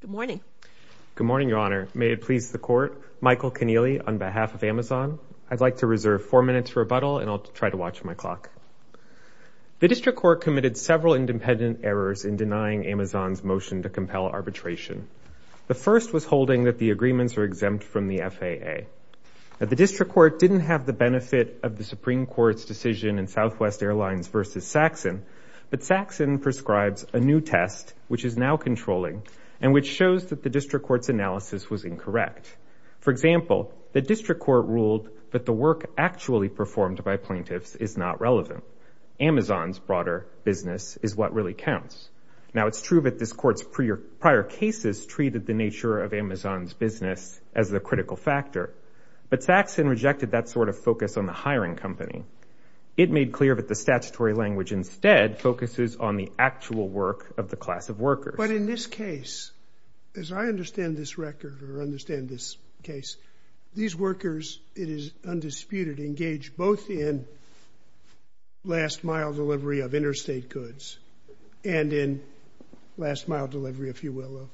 Good morning. Good morning, Your Honor. May it please the Court, Michael Keneally, on behalf of Amazon, I'd like to reserve four minutes for rebuttal and I'll try to watch my clock. The District Court committed several independent errors in denying Amazon's motion to compel arbitration. The first was holding that the agreements were exempt from the FAA. The District Court didn't have the benefit of the Supreme Court's decision in Southwest Airlines v. Saxon, but Saxon prescribes a new test, which is now controlling, and which shows that the District Court's analysis was incorrect. For example, the District Court ruled that the work actually performed by plaintiffs is not relevant. Amazon's broader business is what really counts. Now, it's true that this Court's prior cases treated the nature of Amazon's business as the critical factor, but Saxon rejected that sort of focus on the hiring company. It made clear that the statutory language instead focuses on the actual work of the class of workers. But in this case, as I understand this record or understand this case, these workers, it is undisputed, engage both in last-mile delivery of interstate goods and in last-mile delivery, if you will, of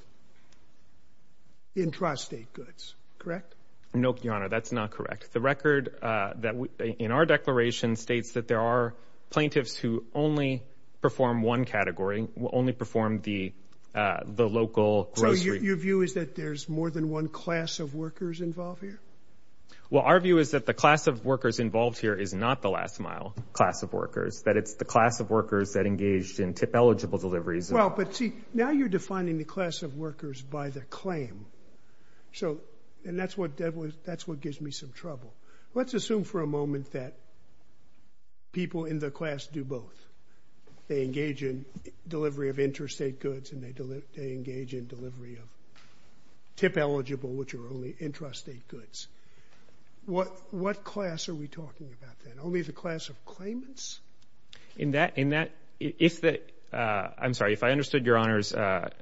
intrastate goods. Correct? No, Your Honor, that's not correct. The record in our declaration states that there are plaintiffs who only perform one category, only perform the local grocery... So your view is that there's more than one class of workers involved here? Well, our view is that the class of workers involved here is not the last-mile class of workers, that it's the class of workers that engaged in TIP-eligible deliveries. Well, but see, now you're defining the class of workers by their claim. And that's what gives me some trouble. Let's assume for a moment that people in the class do both. They engage in delivery of interstate goods and they engage in delivery of TIP-eligible, which are only intrastate goods. What class are we talking about then? Only the class of claimants? In that... I'm sorry, if I understood Your Honor's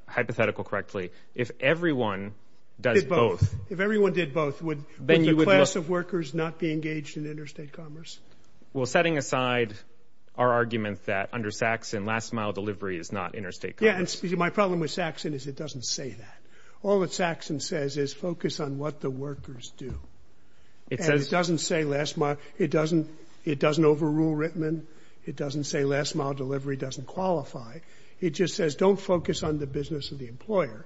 hypothetical correctly, if everyone does both... If everyone did both, would the class of workers not be engaged in interstate commerce? Well, setting aside our argument that, under Saxon, last-mile delivery is not interstate commerce. Yeah, and my problem with Saxon is it doesn't say that. All that Saxon says is focus on what the workers do. And it doesn't say last-mile... It doesn't overrule Rittman. It doesn't say last-mile delivery doesn't qualify. It just says don't focus on the business of the employer.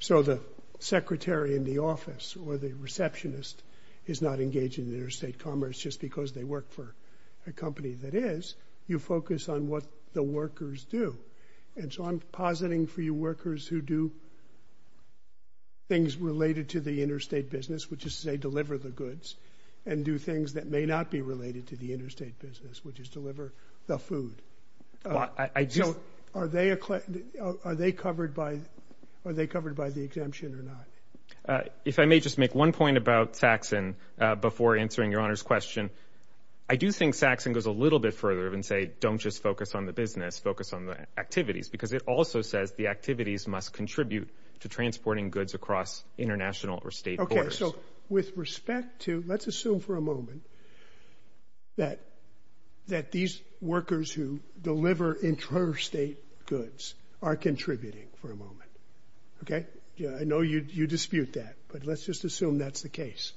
So the secretary in the office or the receptionist is not engaged in interstate commerce just because they work for a company that is. You focus on what the workers do. And so I'm positing for you workers who do things related to the interstate business, which is, say, deliver the goods, and do things that may not be related to the interstate business, which is deliver the food. So are they covered by the exemption or not? If I may just make one point about Saxon before answering Your Honour's question. I do think Saxon goes a little bit further and say don't just focus on the business, focus on the activities, because it also says the activities must contribute to transporting goods across international or state borders. Okay, so with respect to... Let's assume for a moment that these workers who deliver interstate goods are contributing for a moment, okay? I know you dispute that, but let's just assume that's the case.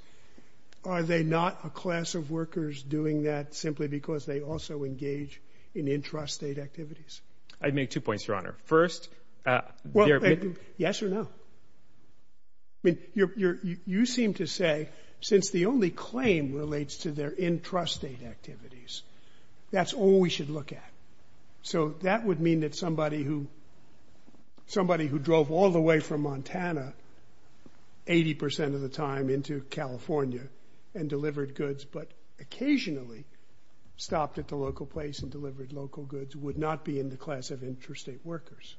Are they not a class of workers doing that simply because they also engage in intrastate activities? I'd make two points, Your Honour. First... Yes or no? I mean, you seem to say that since the only claim relates to their intrastate activities, that's all we should look at. So that would mean that somebody who... somebody who drove all the way from Montana 80% of the time into California and delivered goods but occasionally stopped at the local place and delivered local goods would not be in the class of intrastate workers.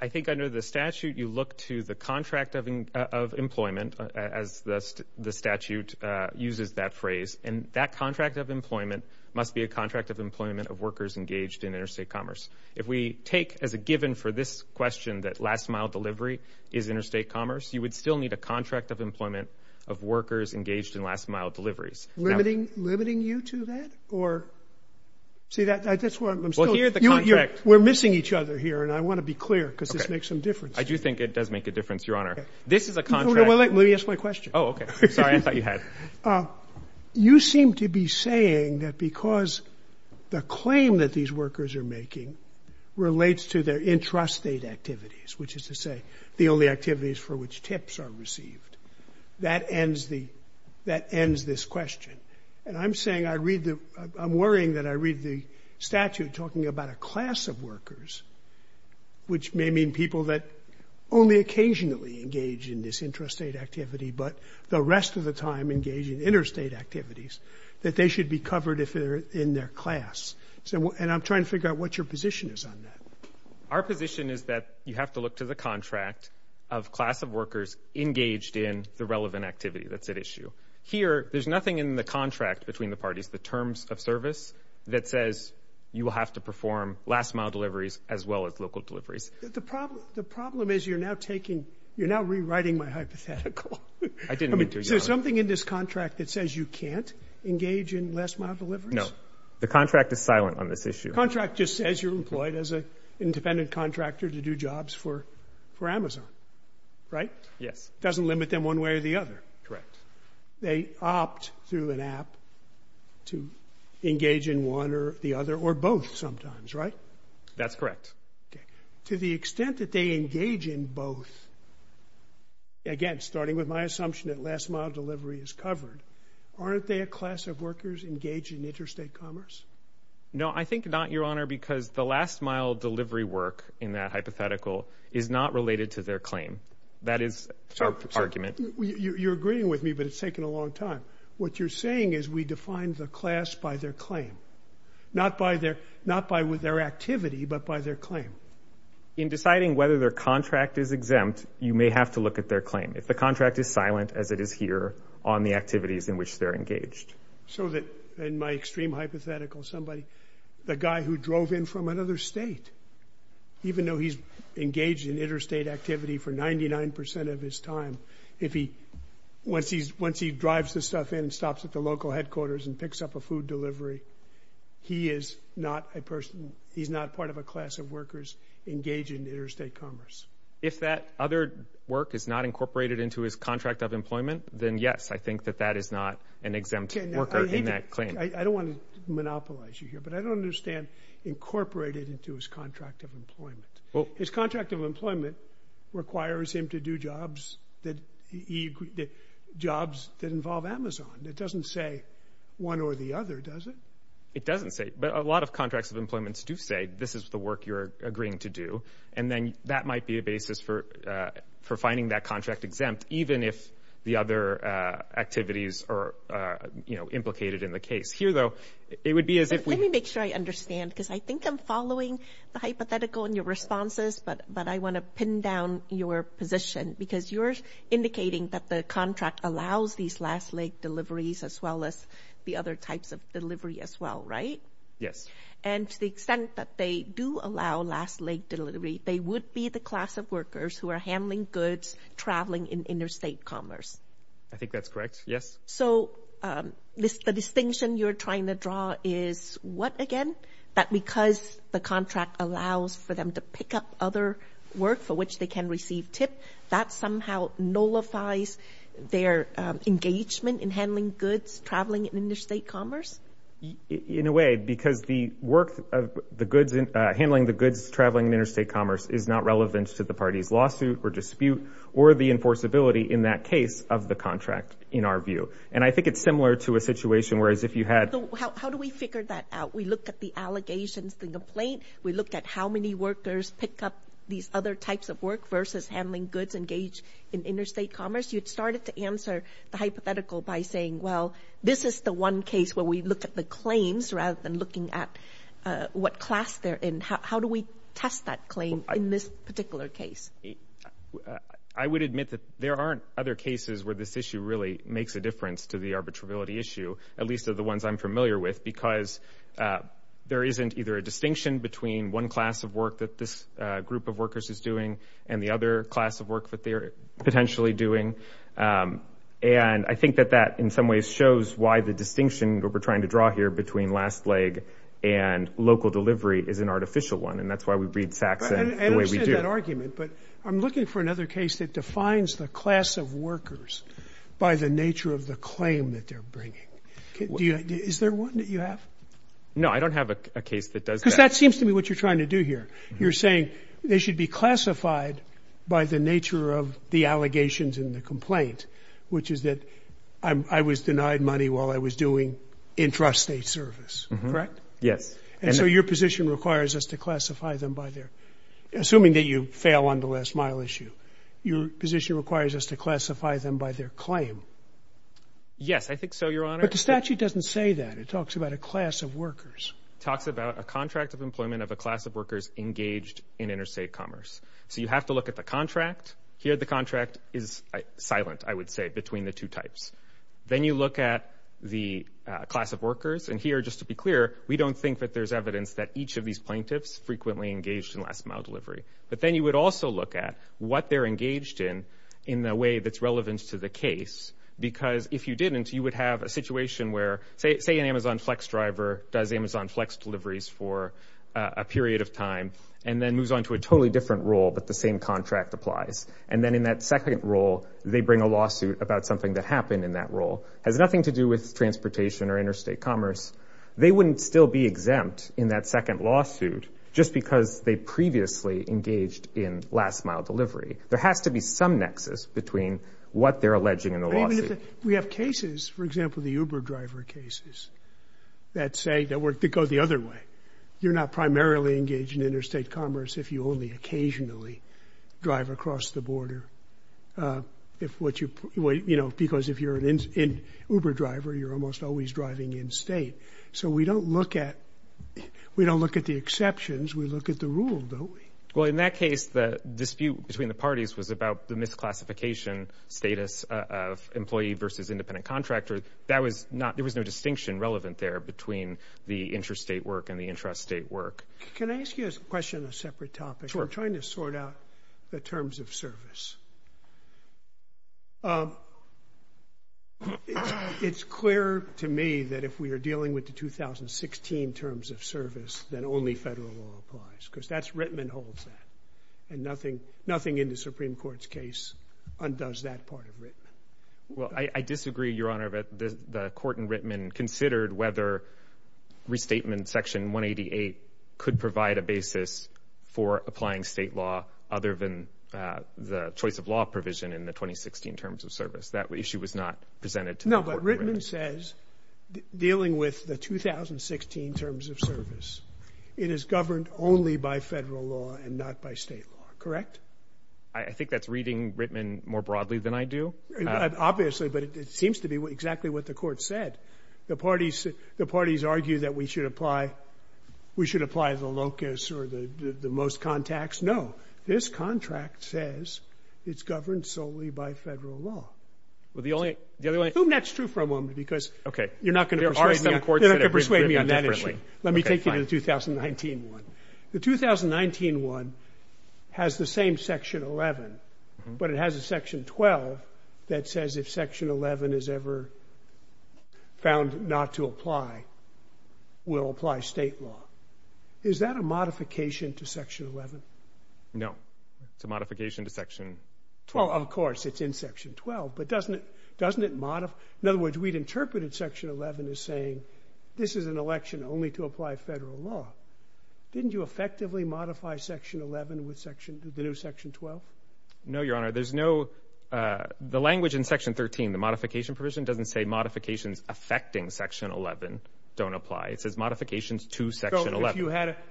I think under the statute, you look to the contract of employment as the statute uses that phrase, and that contract of employment must be a contract of employment of workers engaged in interstate commerce. If we take as a given for this question that last-mile delivery is interstate commerce, you would still need a contract of employment of workers engaged in last-mile deliveries. Limiting you to that? Or... See, that's why I'm still... We're missing each other here, and I want to be clear, because this makes some difference. I do think it does make a difference, Your Honour. This is a contract... Let me ask my question. Oh, OK. Sorry, I thought you had. You seem to be saying that because the claim that these workers are making relates to their intrastate activities, which is to say the only activities for which tips are received, that ends the... that ends this question. And I'm saying I read the... I'm worrying that I read the statute talking about a class of workers, which may mean people that only occasionally engage in this intrastate activity, but the rest of the time engage in interstate activities, that they should be covered if they're in their class. And I'm trying to figure out what your position is on that. Our position is that you have to look to the contract of class of workers engaged in the relevant activity that's at issue. Here, there's nothing in the contract between the parties, the terms of service, that says you will have to perform last-mile deliveries as well as local deliveries. The problem is you're now taking... you're now rewriting my hypothetical. I didn't mean to. Is there something in this contract that says you can't engage in last-mile deliveries? No. The contract is silent on this issue. The contract just says you're employed as an independent contractor to do jobs for Amazon, right? Yes. Doesn't limit them one way or the other. Correct. They opt through an app to engage in one or the other, or both sometimes, right? That's correct. Okay. To the extent that they engage in both, again, starting with my assumption that last-mile delivery is covered, aren't they a class of workers engaged in interstate commerce? No, I think not, Your Honor, because the last-mile delivery work in that hypothetical is not related to their claim. That is our argument. You're agreeing with me, but it's taken a long time. What you're saying is we define the class by their claim, not by their activity, but by their claim. In deciding whether their contract is exempt, you may have to look at their claim. If the contract is silent, as it is here, on the activities in which they're engaged. So that, in my extreme hypothetical, somebody... the guy who drove in from another state, even though he's engaged in interstate activity for 99% of his time, if he... once he drives the stuff in and stops at the local headquarters and picks up a food delivery, he is not a person... he's not part of a class of workers engaged in interstate commerce. If that other work is not incorporated into his contract of employment, then yes, I think that that is not an exempt worker in that claim. but I don't understand incorporated into his contract of employment. His contract of employment requires him to do jobs that he... jobs that involve Amazon. It doesn't say one or the other, does it? It doesn't say... but a lot of contracts of employment do say this is the work you're agreeing to do, and then that might be a basis for finding that contract exempt, even if the other activities are, you know, implicated in the case. Here, though, it would be as if we... Let me make sure I understand, because I think I'm following the hypothetical in your responses, but I want to pin down your position, because you're indicating that the contract allows these last leg deliveries as well as the other types of delivery as well, right? Yes. And to the extent that they do allow last leg delivery, they would be the class of workers who are handling goods traveling in interstate commerce. I think that's correct, yes. So the distinction you're trying to draw is what, again? That because the contract allows for them to pick up other work for which they can receive TIP, that somehow nullifies their engagement in handling goods traveling in interstate commerce? In a way, because the work of the goods... handling the goods traveling in interstate commerce is not relevant to the party's lawsuit or dispute or the enforceability, in that case, of the contract, in our view. And I think it's similar to a situation where, as if you had... How do we figure that out? We look at the allegations, the complaint. We look at how many workers pick up these other types of work versus handling goods engaged in interstate commerce. You'd start it to answer the hypothetical by saying, well, this is the one case where we look at the claims rather than looking at what class they're in. How do we test that claim in this particular case? I would admit that there aren't other cases where this issue really makes a difference to the arbitrability issue, at least of the ones I'm familiar with, because there isn't either a distinction between one class of work that this group of workers is doing and the other class of work that they are potentially doing. And I think that that, in some ways, shows why the distinction that we're trying to draw here between last leg and local delivery is an artificial one, and that's why we read Saxon the way we do. I understand that argument, but I'm looking for another case that defines the class of workers by the nature of the claim that they're bringing. Is there one that you have? No, I don't have a case that does that. Because that seems to me what you're trying to do here. You're saying they should be classified by the nature of the allegations in the complaint, which is that I was denied money while I was doing intrastate service, correct? Yes. And so your position requires us to classify them by their... Assuming that you fail on the last mile issue, your position requires us to classify them by their claim. Yes, I think so, Your Honor. But the statute doesn't say that. It talks about a class of workers. It talks about a contract of employment of a class of workers engaged in interstate commerce. So you have to look at the contract. Here the contract is silent, I would say, between the two types. Then you look at the class of workers, and here, just to be clear, we don't think that there's evidence that each of these plaintiffs frequently engaged in last-mile delivery. But then you would also look at what they're engaged in in a way that's relevant to the case. Because if you didn't, you would have a situation where, say, an Amazon Flex driver does Amazon Flex deliveries for a period of time and then moves on to a totally different role, but the same contract applies. And then in that second role, they bring a lawsuit about something that happened in that role. Has nothing to do with transportation or interstate commerce. They wouldn't still be exempt in that second lawsuit just because they previously engaged in last-mile delivery. There has to be some nexus between what they're alleging and the lawsuit. We have cases, for example, the Uber driver cases, that say... that go the other way. You're not primarily engaged in interstate commerce if you only occasionally drive across the border. If what you... You know, because if you're an Uber driver, you're almost always driving in-state. So we don't look at... We don't look at the exceptions. We look at the rule, don't we? Well, in that case, the dispute between the parties was about the misclassification status of employee versus independent contractor. That was not... There was no distinction relevant there between the interstate work and the intrastate work. Can I ask you a question on a separate topic? Sure. I'm trying to sort out the terms of service. It's clear to me that if we are dealing with the 2016 terms of service, then only federal law applies, because that's... Rittman holds that, and nothing in the Supreme Court's case undoes that part of Rittman. Well, I disagree, Your Honor, but the court in Rittman considered whether restatement, Section 188, could provide a basis for applying state law other than the choice-of-law provision in the 2016 terms of service. That issue was not presented to the court in Rittman. No, but Rittman says, dealing with the 2016 terms of service, it is governed only by federal law and not by state law, correct? I think that's reading Rittman more broadly than I do. Obviously, but it seems to be exactly what the court said. The parties argue that we should apply... we should apply the locus or the most contacts. No, this contract says it's governed solely by federal law. Well, the only... I assume that's true for a moment, because... Okay. You're not going to persuade me on that issue. Let me take you to the 2019 one. The 2019 one has the same Section 11, but it has a Section 12 that says if Section 11 is ever found not to apply, we'll apply state law. Is that a modification to Section 11? No, it's a modification to Section 12. Well, of course, it's in Section 12, but doesn't it modify... In other words, we'd interpreted Section 11 as saying, this is an election only to apply federal law. Didn't you effectively modify Section 11 with the new Section 12? No, Your Honor. There's no... The language in Section 13, the modification provision, doesn't say modifications affecting Section 11 don't apply. It says modifications to Section 11. So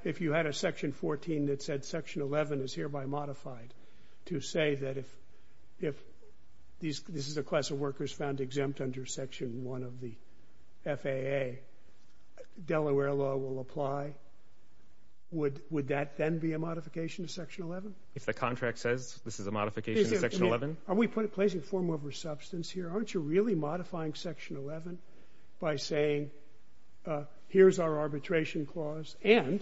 if you had a Section 14 that said Section 11 is hereby modified to say that if this is a class of workers found exempt under Section 1 of the FAA, Delaware law will apply, would that then be a modification to Section 11? If the contract says this is a modification to Section 11? Are we placing form over substance here? Aren't you really modifying Section 11 by saying here's our arbitration clause and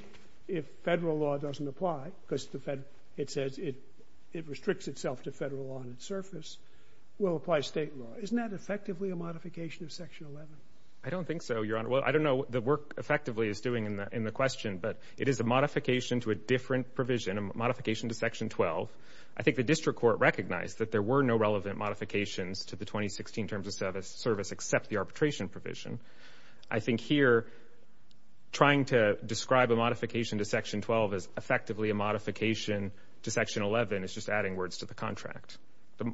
if federal law doesn't apply, because it says it restricts itself to federal law on its surface, will apply state law. Isn't that effectively a modification of Section 11? I don't think so, Your Honor. Well, I don't know what the work effectively is doing in the question, but it is a modification to a different provision, a modification to Section 12. I think the district court recognized that there were no relevant modifications to the 2016 Terms of Service except the arbitration provision. I think here, trying to describe a modification to Section 12 as effectively a modification to Section 11 is just adding words to the contract.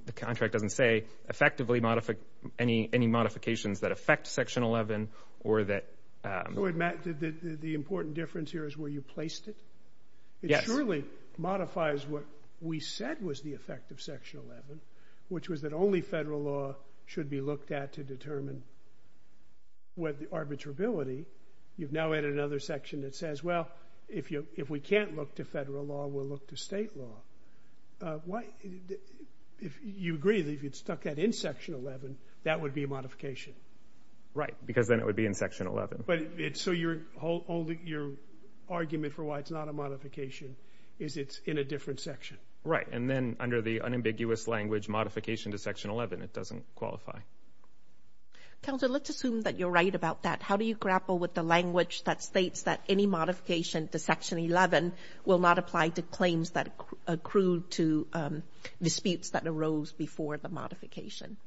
The contract doesn't say effectively any modifications that affect Section 11 or that... Wait, Matt, the important difference here is where you placed it? Yes. It surely modifies what we said was the effect of Section 11, which was that only federal law should be looked at to determine arbitrability. You've now added another section that says, well, if we can't look to federal law, we'll look to state law. Why... You agree that if you stuck that in Section 11, that would be a modification? Right, because then it would be in Section 11. So your argument for why it's not a modification is it's in a different section? Right, and then under the unambiguous language, modification to Section 11, it doesn't qualify. Counselor, let's assume that you're right about that. How do you grapple with the language that states that any modification to Section 11 will not apply to claims that accrue to disputes that arose before the modification?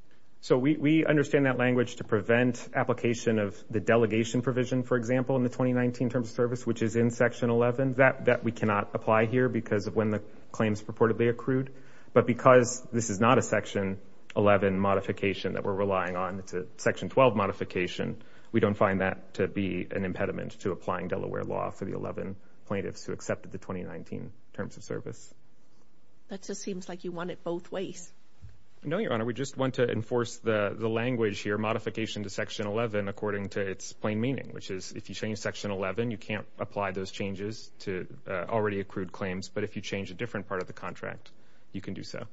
So we understand that language to prevent application of the delegation provision, for example, in the 2019 Terms of Service, which is in Section 11. That we cannot apply here because of when the claims purportedly accrued. But because this is not a Section 11 modification that we're relying on, it's a Section 12 modification, we don't find that to be an impediment to applying Delaware law for the 11 plaintiffs who accepted the 2019 Terms of Service. That just seems like you want it both ways. No, Your Honor. We just want to enforce the language here, modification to Section 11, according to its plain meaning, which is if you change Section 11, you can't apply those changes to already accrued claims. But if you change a different part of the contract, you can do so.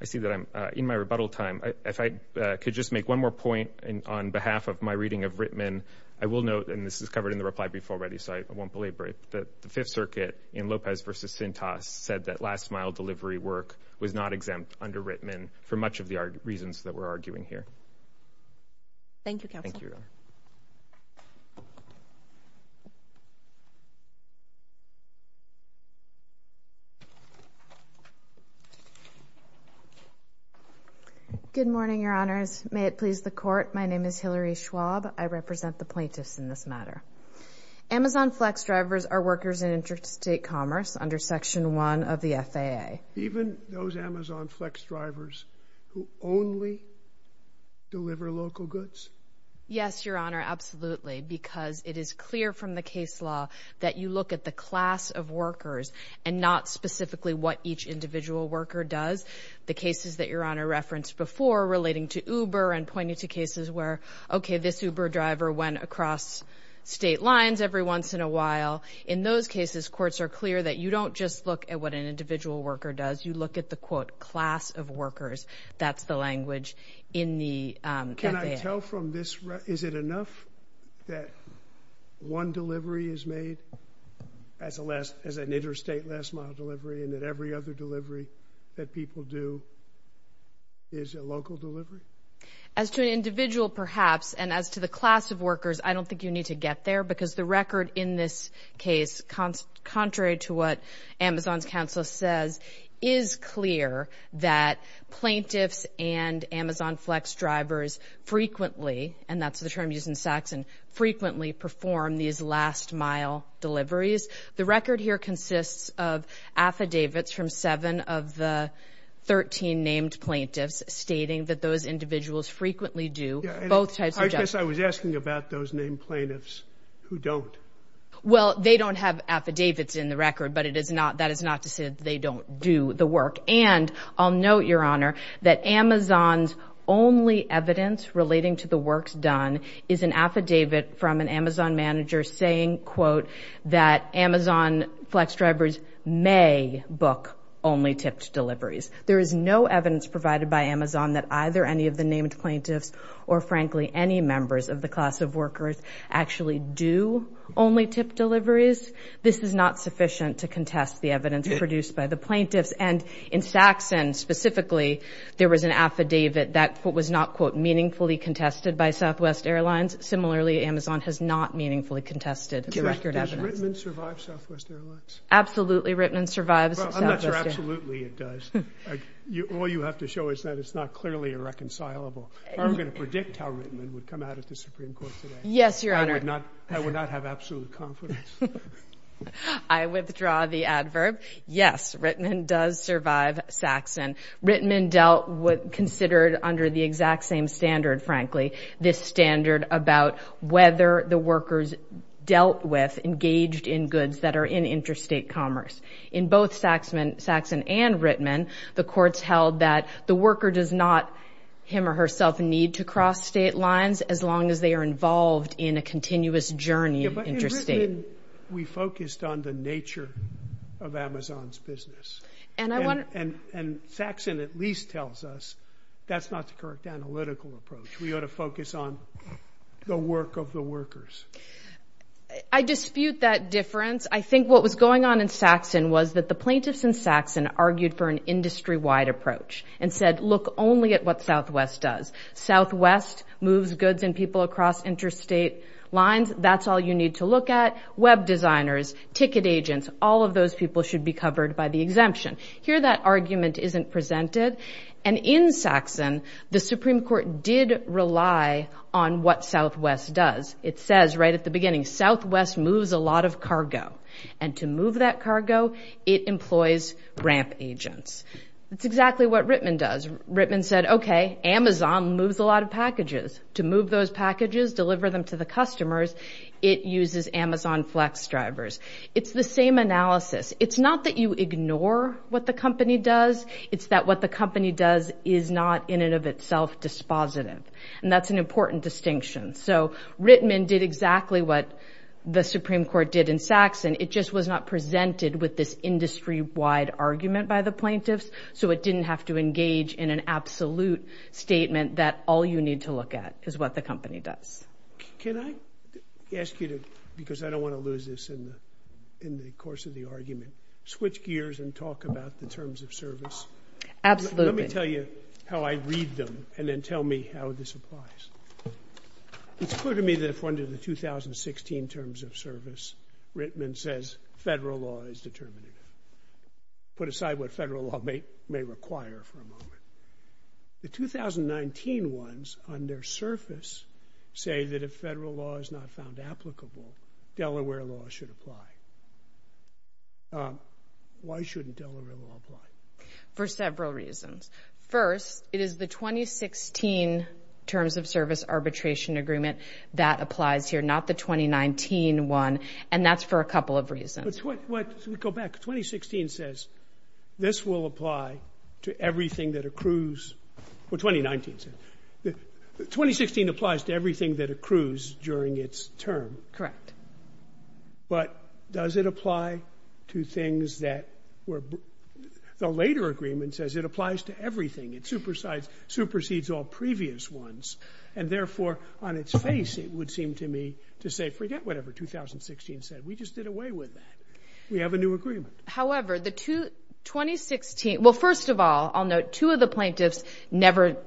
I see that I'm in my rebuttal time. If I could just make one more point on behalf of my reading of Rittman, I will note, and this is covered in the reply brief already, so I won't belabor it, that the Fifth Circuit in Lopez v. Sintas said that last-mile delivery work was not exempt under Rittman for much of the reasons that we're arguing here. Thank you, counsel. Thank you, Your Honor. Good morning, Your Honors. May it please the Court, my name is Hillary Schwab. I represent the plaintiffs in this matter. Amazon Flex drivers are workers in interstate commerce under Section 1 of the FAA. Even those Amazon Flex drivers who only deliver local goods? Yes, Your Honor, absolutely, because it is clear from the case law that you look at the class of workers and not specifically what each individual worker does. The cases that Your Honor referenced before relating to Uber and pointing to cases where, okay, this Uber driver went across state lines every once in a while, in those cases, courts are clear that you don't just look at what an individual worker does, you look at the, quote, class of workers. That's the language in the FAA. Can I tell from this, is it enough that one delivery is made as an interstate last-mile delivery and that every other delivery that people do is a local delivery? As to an individual, perhaps, and as to the class of workers, I don't think you need to get there, because the record in this case, contrary to what Amazon's counsel says, is clear that plaintiffs and Amazon Flex drivers frequently, and that's the term used in Saxon, frequently perform these last-mile deliveries. The record here consists of affidavits from seven of the 13 named plaintiffs stating that those individuals frequently do both types of jobs. I guess I was asking about those named plaintiffs who don't. Well, they don't have affidavits in the record, but that is not to say that they don't do the work. And I'll note, Your Honor, that Amazon's only evidence relating to the works done is an affidavit from an Amazon manager saying, quote, that Amazon Flex drivers may book only tipped deliveries. There is no evidence provided by Amazon that either any of the named plaintiffs or, frankly, any members of the class of workers actually do only tipped deliveries. This is not sufficient to contest the evidence produced by the plaintiffs. And in Saxon, specifically, there was an affidavit that, quote, was not, quote, meaningfully contested by Southwest Airlines. Similarly, Amazon has not meaningfully contested the record evidence. Does Rittman survive Southwest Airlines? Absolutely, Rittman survives Southwest Airlines. Well, I'm not sure absolutely it does. All you have to show is that it's not clearly irreconcilable. I'm going to predict how Rittman would come out of the Supreme Court today. Yes, Your Honor. I would not have absolute confidence. I withdraw the adverb. Yes, Rittman does survive Saxon. Rittman dealt with... considered under the exact same standard, frankly, this standard about whether the workers dealt with engaged-in goods that are in interstate commerce. In both Saxon and Rittman, the courts held that the worker does not, him or herself, need to cross state lines as long as they are involved in a continuous journey interstate. Yeah, but in Rittman, we focused on the nature of Amazon's business. And I wonder... And Saxon at least tells us that's not the correct analytical approach. We ought to focus on the work of the workers. I dispute that difference. I think what was going on in Saxon was that the plaintiffs in Saxon argued for an industry-wide approach and said, look only at what Southwest does. Southwest moves goods and people across interstate lines. That's all you need to look at. Web designers, ticket agents, all of those people should be covered by the exemption. Here, that argument isn't presented. And in Saxon, the Supreme Court did rely on what Southwest does. It says right at the beginning, Southwest moves a lot of cargo. And to move that cargo, it employs ramp agents. That's exactly what Rittman does. Rittman said, okay, Amazon moves a lot of packages. To move those packages, deliver them to the customers, it uses Amazon Flex drivers. It's the same analysis. It's not that you ignore what the company does. It's that what the company does is not in and of itself dispositive. And that's an important distinction. So Rittman did exactly what the Supreme Court did in Saxon. It just was not presented with this industry-wide argument by the plaintiffs, so it didn't have to engage in an absolute statement that all you need to look at is what the company does. Can I ask you to, because I don't want to lose this in the course of the argument, switch gears and talk about the terms of service? Absolutely. Let me tell you how I read them, and then tell me how this applies. It's clear to me that if under the 2016 terms of service, Rittman says federal law is determinative. Put aside what federal law may require for a moment. The 2019 ones, on their surface, say that if federal law is not found applicable, Delaware law should apply. Why shouldn't Delaware law apply? For several reasons. First, it is the 2016 terms of service arbitration agreement that applies here, not the 2019 one, and that's for a couple of reasons. Let's go back. 2016 says this will apply to everything that accrues... Well, 2019 says... 2016 applies to everything that accrues during its term. Correct. But does it apply to things that were... The later agreement says it applies to everything. It supersedes all previous ones, and therefore, on its face, it would seem to me to say, forget whatever 2016 said. We just did away with that. We have a new agreement. However, the 2016... Well, first of all, I'll note two of the plaintiffs never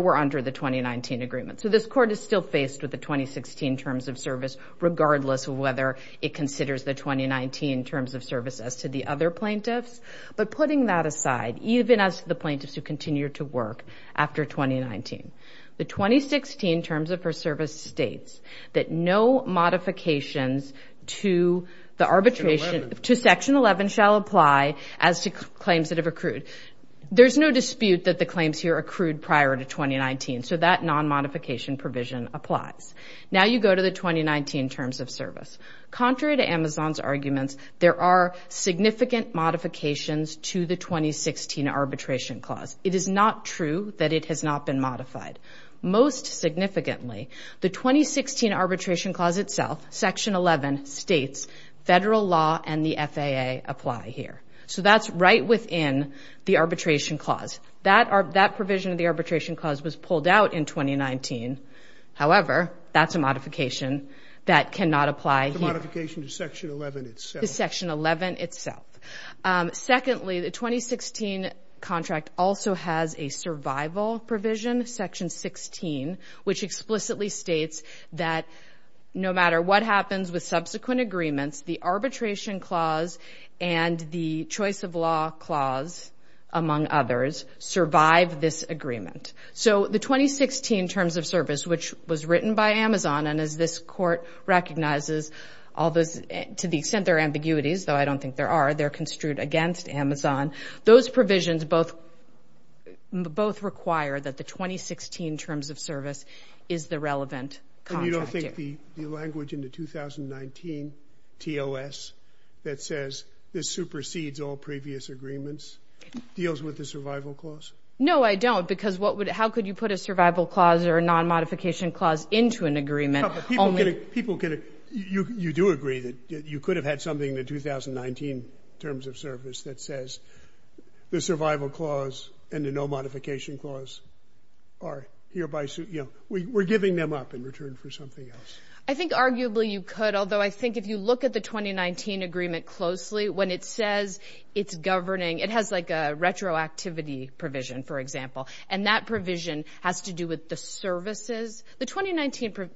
were under the 2019 agreement. So this Court is still faced with the 2016 terms of service, regardless of whether it considers the 2019 terms of service as to the other plaintiffs. But putting that aside, even as the plaintiffs who continue to work after 2019, the 2016 terms of service states that no modifications to the arbitration... Section 11. ...to Section 11 shall apply as to claims that have accrued. There's no dispute that the claims here accrued prior to 2019, so that non-modification provision applies. Now you go to the 2019 terms of service. Contrary to Amazon's arguments, there are significant modifications to the 2016 Arbitration Clause. It is not true that it has not been modified. Most significantly, the 2016 Arbitration Clause itself, Section 11, states federal law and the FAA apply here. So that's right within the Arbitration Clause. That provision of the Arbitration Clause was pulled out in 2019. However, that's a modification that cannot apply here. The Section 11 itself. Secondly, the 2016 contract also has a survival provision, Section 16, which explicitly states that no matter what happens with subsequent agreements, the Arbitration Clause and the Choice of Law Clause, among others, survive this agreement. So the 2016 terms of service, which was written by Amazon, and as this Court recognizes, to the extent there are ambiguities, though I don't think there are, they're construed against Amazon. Those provisions both require that the 2016 terms of service is the relevant contract. And you don't think the language in the 2019 TOS that says, this supersedes all previous agreements, deals with the survival clause? No, I don't, because how could you put a survival clause or a non-modification clause into an agreement? People get it. You do agree that you could have had something in the 2019 terms of service that says the survival clause and the no-modification clause are hereby, you know, we're giving them up in return for something else. I think arguably you could, although I think if you look at the 2019 agreement closely, when it says it's governing, it has like a retroactivity provision, for example. And that provision has to do with the services. The 2019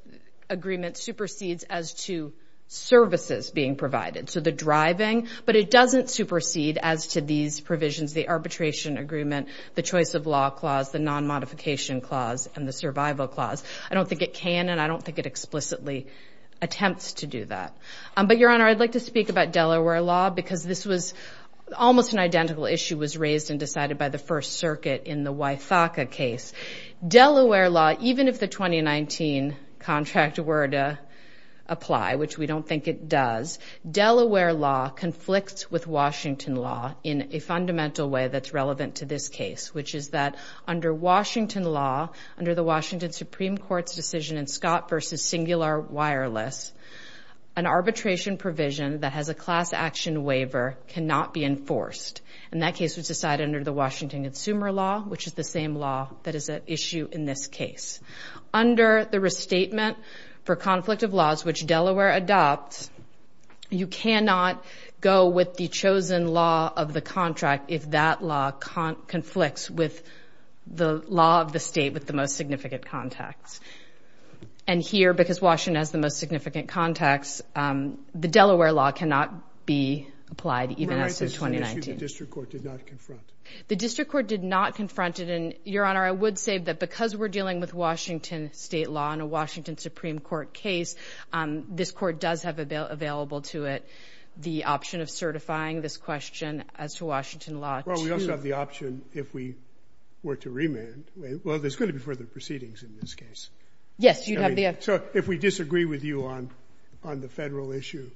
agreement supersedes as to services being provided, so the driving, but it doesn't supersede as to these provisions, the arbitration agreement, the choice of law clause, the non-modification clause, and the survival clause. I don't think it can, and I don't think it explicitly attempts to do that. But, Your Honor, I'd like to speak about Delaware law, because this was almost an identical issue was raised and decided by the First Circuit in the Wythaka case. Delaware law, even if the 2019 contract were to apply, which we don't think it does, Delaware law conflicts with Washington law in a fundamental way that's relevant to this case, which is that under Washington law, under the Washington Supreme Court's decision in Scott v. Singular Wireless, an arbitration provision that has a class action waiver cannot be enforced. And that case was decided under the Washington Consumer Law, which is the same law that is at issue in this case. Under the Restatement for Conflict of Laws, which Delaware adopts, you cannot go with the chosen law of the contract if that law conflicts with the law of the state with the most significant context. And here, because Washington has the most significant context, the Delaware law cannot be applied even as of 2019. The district court did not confront? The district court did not confront it. And, Your Honor, I would say that because we're dealing with Washington state law in a Washington Supreme Court case, this court does have available to it the option of certifying this question as to Washington law. Well, we also have the option if we were to remand. Well, there's going to be further proceedings in this case. Yes, you'd have the option. So if we disagree with you on the federal issue,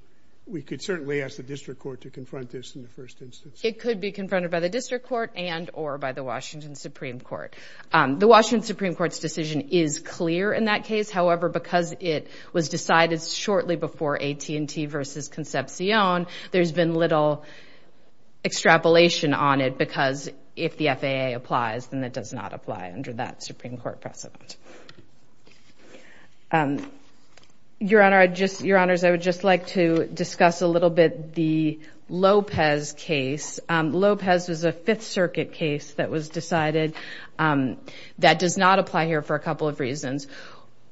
we could certainly ask the district court to confront this in the first instance. It could be confronted by the district court and or by the Washington Supreme Court. The Washington Supreme Court's decision is clear in that case. However, because it was decided shortly before AT&T versus Concepcion, there's been little extrapolation on it because if the FAA applies, then it does not apply under that Supreme Court precedent. Your Honor, I would just like to discuss a little bit the Lopez case. Lopez was a Fifth Circuit case that was decided that does not apply here for a couple of reasons.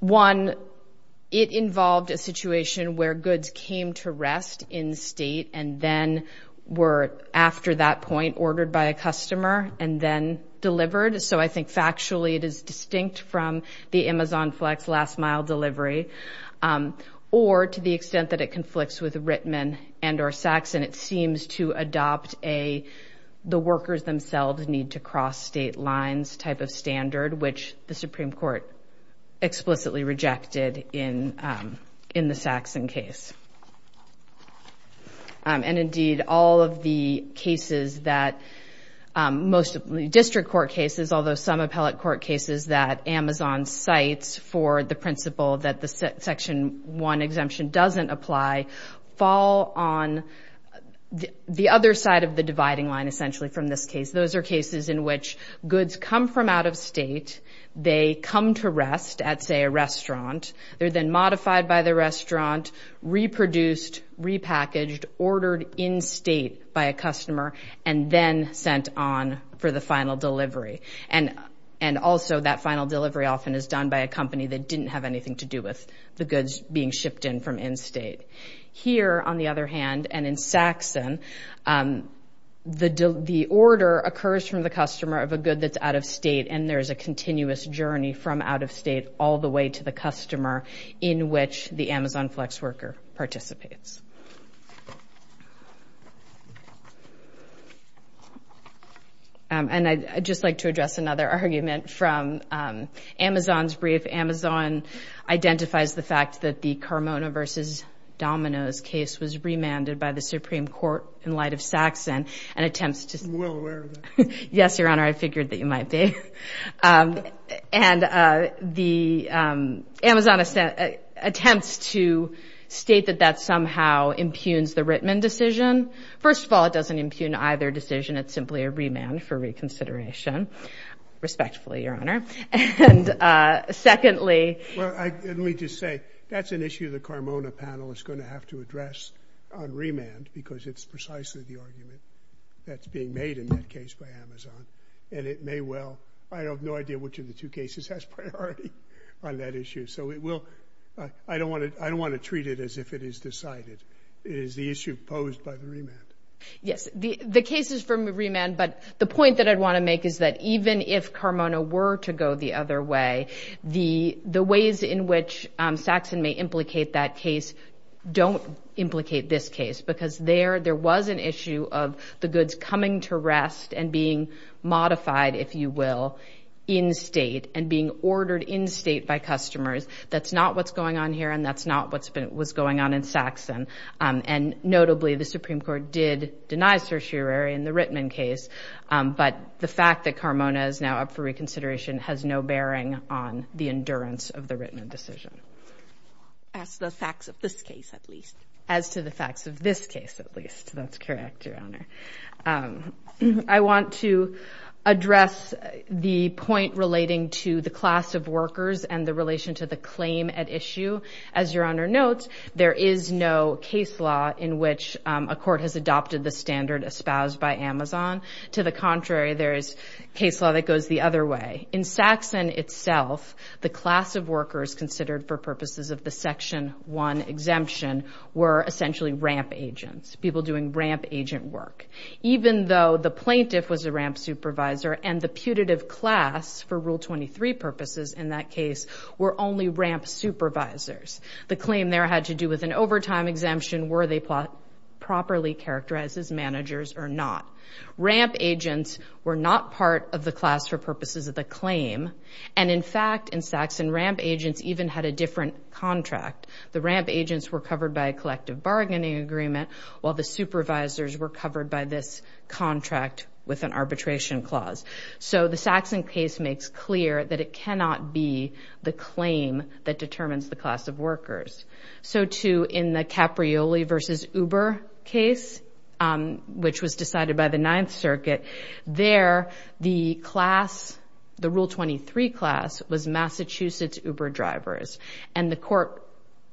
One, it involved a situation where goods came to rest in state and then were, after that point, ordered by a customer and then delivered. So I think factually it is distinct from the Amazon Flex last mile delivery. Or to the extent that it conflicts with Rittman and or Saxon, it seems to adopt the workers themselves need to cross state lines type of standard, which the Supreme Court explicitly rejected in the Saxon case. And indeed, all of the cases that most district court cases, although some appellate court cases that Amazon cites for the principle that the Section 1 exemption doesn't apply, fall on the other side of the dividing line essentially from this case. Those are cases in which goods come from out of state. They come to rest at, say, a restaurant. They're then modified by the restaurant, reproduced, repackaged, ordered in state by a customer, and then sent on for the final delivery. And also that final delivery often is done by a company that didn't have anything to do with the goods being shipped in from in state. Here, on the other hand, and in Saxon, the order occurs from the customer of a good that's out of state, and there's a continuous journey from out of state all the way to the customer in which the Amazon flex worker participates. And I'd just like to address another argument from Amazon's brief. Amazon identifies the fact that the Carmona v. Domino's case was remanded by the Supreme Court in light of Saxon and attempts to... Yes, Your Honor, I figured that you might be. And the Amazon attempts to state that that somehow impugns the Rittman decision. First of all, it doesn't impugn either decision. It's simply a remand for reconsideration, respectfully, Your Honor. And secondly... Let me just say, that's an issue the Carmona panel is going to have to address on remand because it's precisely the argument that's being made in that case by Amazon. And it may well... I have no idea which of the two cases has priority on that issue. So it will... I don't want to treat it as if it is decided. It is the issue posed by the remand. Yes, the case is for remand. But the point that I'd want to make is that even if Carmona were to go the other way, the ways in which Saxon may implicate that case don't implicate this case because there was an issue of the goods coming to rest and being modified, if you will, in state and being ordered in state by customers. That's not what's going on here, and that's not what was going on in Saxon. And notably, the Supreme Court did deny certiorari in the Rittman case. But the fact that Carmona is now up for reconsideration has no bearing on the endurance of the Rittman decision. As to the facts of this case, at least. As to the facts of this case, at least. That's correct, Your Honor. I want to address the point relating to the class of workers and the relation to the claim at issue. As Your Honor notes, there is no case law in which a court has adopted the standard espoused by Amazon. To the contrary, there is case law that goes the other way. In Saxon itself, the class of workers considered for purposes of the Section 1 exemption were essentially ramp agents, people doing ramp agent work. Even though the plaintiff was a ramp supervisor and the putative class for Rule 23 purposes in that case were only ramp supervisors, the claim there had to do with an overtime exemption, were they properly characterized as managers or not. Ramp agents were not part of the class for purposes of the claim. And in fact, in Saxon, ramp agents even had a different contract. The ramp agents were covered by a collective bargaining agreement while the supervisors were covered by this contract with an arbitration clause. So the Saxon case makes clear that it cannot be the claim that determines the class of workers. So, too, in the Caprioli v. Uber case, which was decided by the Ninth Circuit, there the class, the Rule 23 class, was Massachusetts Uber drivers. And the court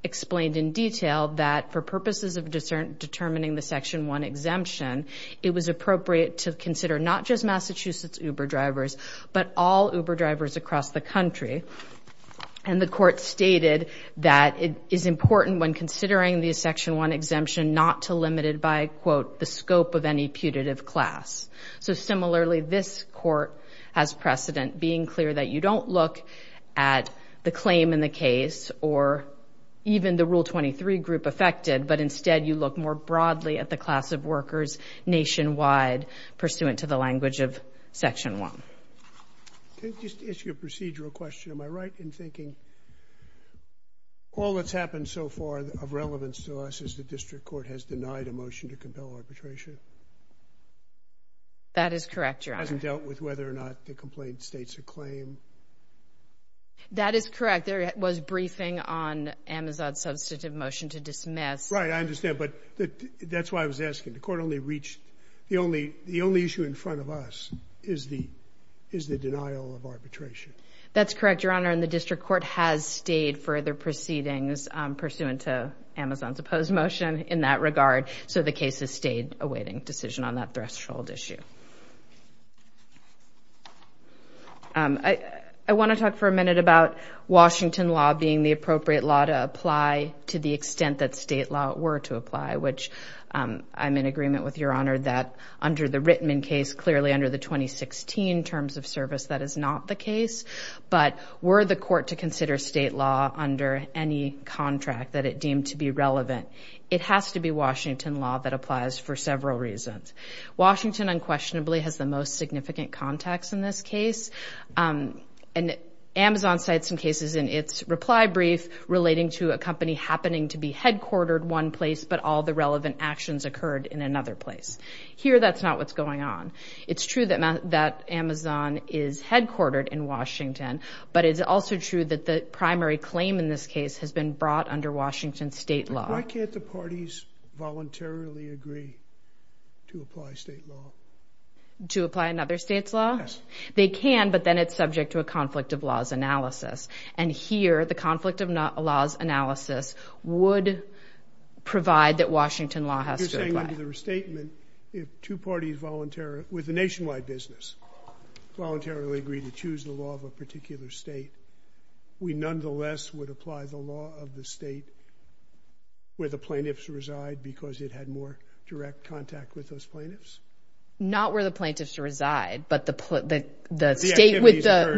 explained in detail that for purposes of determining the Section 1 exemption, it was appropriate to consider not just Massachusetts Uber drivers, but all Uber drivers across the country. And the court stated that it is important when considering the Section 1 exemption not to limit it by, quote, the scope of any putative class. So, similarly, this court has precedent being clear that you don't look at the claim in the case or even the Rule 23 group affected, but instead you look more broadly at the class of workers nationwide, pursuant to the language of Section 1. Can I just ask you a procedural question? Am I right in thinking all that's happened so far of relevance to us is the district court has denied a motion to compel arbitration? That is correct, Your Honor. It hasn't dealt with whether or not the complaint states a claim? That is correct. There was briefing on Amazon's substantive motion to dismiss. Right, I understand. But that's why I was asking. The court only reached the only issue in front of us is the denial of arbitration. That's correct, Your Honor. And the district court has stayed further proceedings pursuant to Amazon's opposed motion in that regard. So the case has stayed a waiting decision on that threshold issue. I want to talk for a minute about Washington law being the appropriate law to apply to the extent that state law were to apply, which I'm in agreement with, Your Honor, that under the Rittman case, clearly under the 2016 Terms of Service, that is not the case. But were the court to consider state law under any contract that it deemed to be relevant, it has to be Washington law that applies for several reasons. Washington unquestionably has the most significant contacts in this case. And Amazon cites some cases in its reply brief relating to a company happening to be headquartered one place, but all the relevant actions occurred in another place. Here, that's not what's going on. It's true that Amazon is headquartered in Washington, but it's also true that the primary claim in this case has been brought under Washington state law. Why can't the parties voluntarily agree to apply state law? To apply another state's law? Yes. They can, but then it's subject to a conflict of laws analysis. And here, the conflict of laws analysis would provide that Washington law has to apply. You're saying under the restatement, if two parties voluntarily, with a nationwide business, voluntarily agree to choose the law of a particular state, we nonetheless would apply the law of the state where the plaintiffs reside because it had more direct contact with those plaintiffs? Not where the plaintiffs reside, but the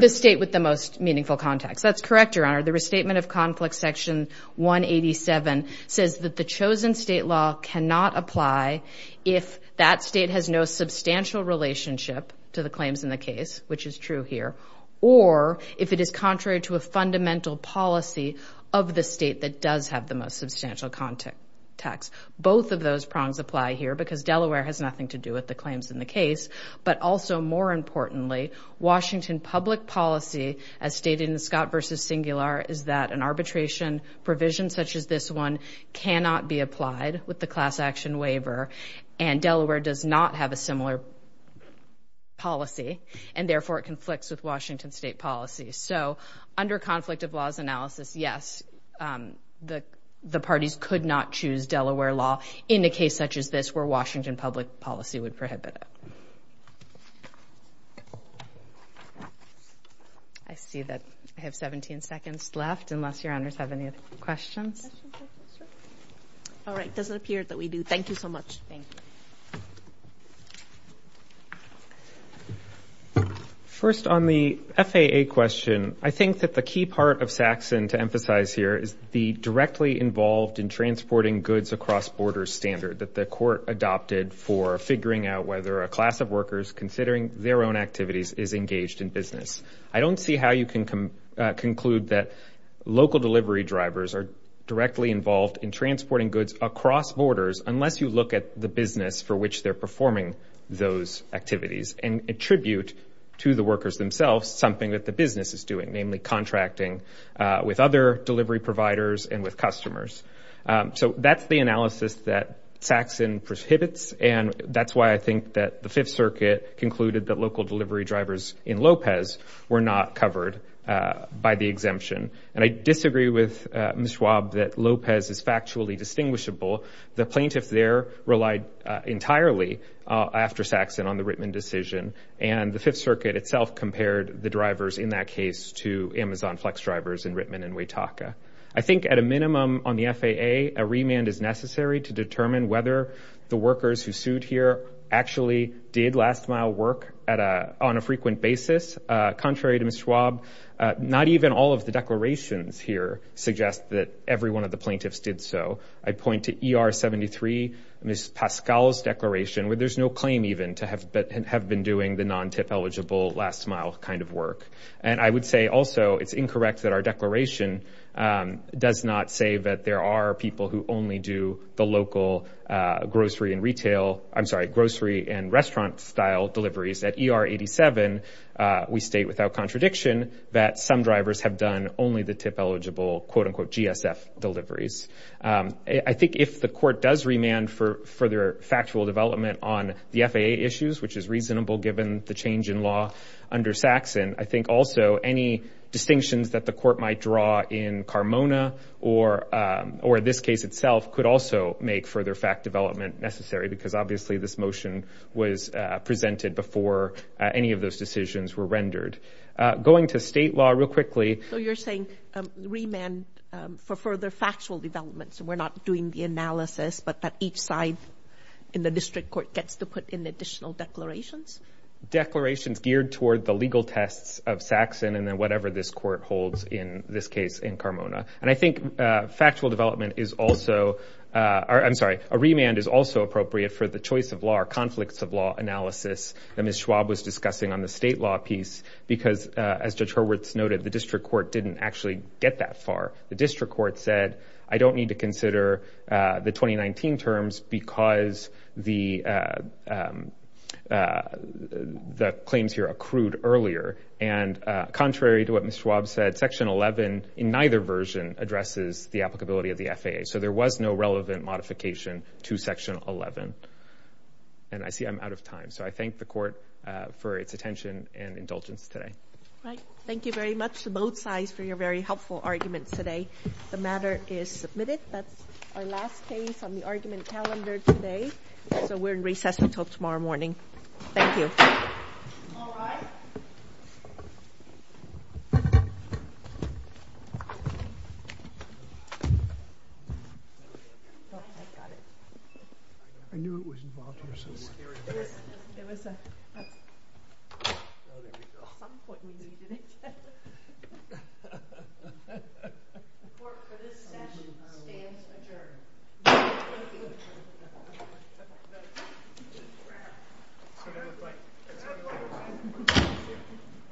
state with the most meaningful contacts. That's correct, Your Honor. The restatement of Conflict Section 187 says that the chosen state law cannot apply if that state has no substantial relationship to the claims in the case, which is true here, or if it is contrary to a fundamental policy of the state that does have the most substantial contacts. Both of those prongs apply here because Delaware has nothing to do with the claims in the case, but also, more importantly, Washington public policy, as stated in Scott v. Singular, is that an arbitration provision such as this one cannot be applied with the class action waiver, and Delaware does not have a similar policy, and therefore, it conflicts with Washington state policy. So under conflict of laws analysis, yes, the parties could not choose Delaware law in a case such as this where Washington public policy would prohibit it. I see that I have 17 seconds left, unless Your Honors have any questions. All right, it doesn't appear that we do. Thank you so much. Thank you. First, on the FAA question, I think that the key part of Saxon to emphasize here is the directly involved in transporting goods across borders standard that the court adopted for figuring out whether a class of workers, considering their own activities, is engaged in business. I don't see how you can conclude that local delivery drivers are directly involved in transporting goods across borders unless you look at the business for which they're performing those activities and attribute to the workers themselves something that the business is doing, namely contracting with other delivery providers and with customers. So that's the analysis that Saxon prohibits, and that's why I think that the Fifth Circuit concluded that local delivery drivers in Lopez were not covered by the exemption. And I disagree with Ms. Schwab that Lopez is factually distinguishable. The plaintiffs there relied entirely after Saxon on the Rittman decision, and the Fifth Circuit itself compared the drivers in that case to Amazon Flex drivers in Rittman and Wetaka. I think at a minimum on the FAA, a remand is necessary to determine whether the workers who sued here actually did last-mile work on a frequent basis. Contrary to Ms. Schwab, not even all of the declarations here suggest that every one of the plaintiffs did so. I point to ER-73, Ms. Pascal's declaration, where there's no claim even to have been doing the non-TIP-eligible last-mile kind of work. And I would say also it's incorrect that our declaration does not say that there are people who only do the local grocery and retail – I'm sorry, grocery and restaurant-style deliveries. At ER-87, we state without contradiction that some drivers have done only the TIP-eligible, quote-unquote, GSF deliveries. I think if the court does remand for further factual development on the FAA issues, which is reasonable given the change in law under Saxon, I think also any distinctions that the court might draw in Carmona or this case itself could also make further fact development necessary, because obviously this motion was presented before any of those decisions were rendered. Going to state law real quickly – So you're saying remand for further factual development, so we're not doing the analysis, but that each side in the district court gets to put in additional declarations? Declarations geared toward the legal tests of Saxon and then whatever this court holds in this case in Carmona. And I think factual development is also – I'm sorry, a remand is also appropriate for the choice of law or conflicts of law analysis that Ms. Schwab was discussing on the state law piece, because as Judge Hurwitz noted, the district court didn't actually get that far. The district court said, I don't need to consider the 2019 terms because the claims here accrued earlier. And contrary to what Ms. Schwab said, Section 11 in neither version addresses the applicability of the FAA. So there was no relevant modification to Section 11. And I see I'm out of time, so I thank the court for its attention and indulgence today. Thank you very much to both sides for your very helpful arguments today. The matter is submitted. That's our last case on the argument calendar today. So we're in recess until tomorrow morning. Thank you. All rise. Thank you.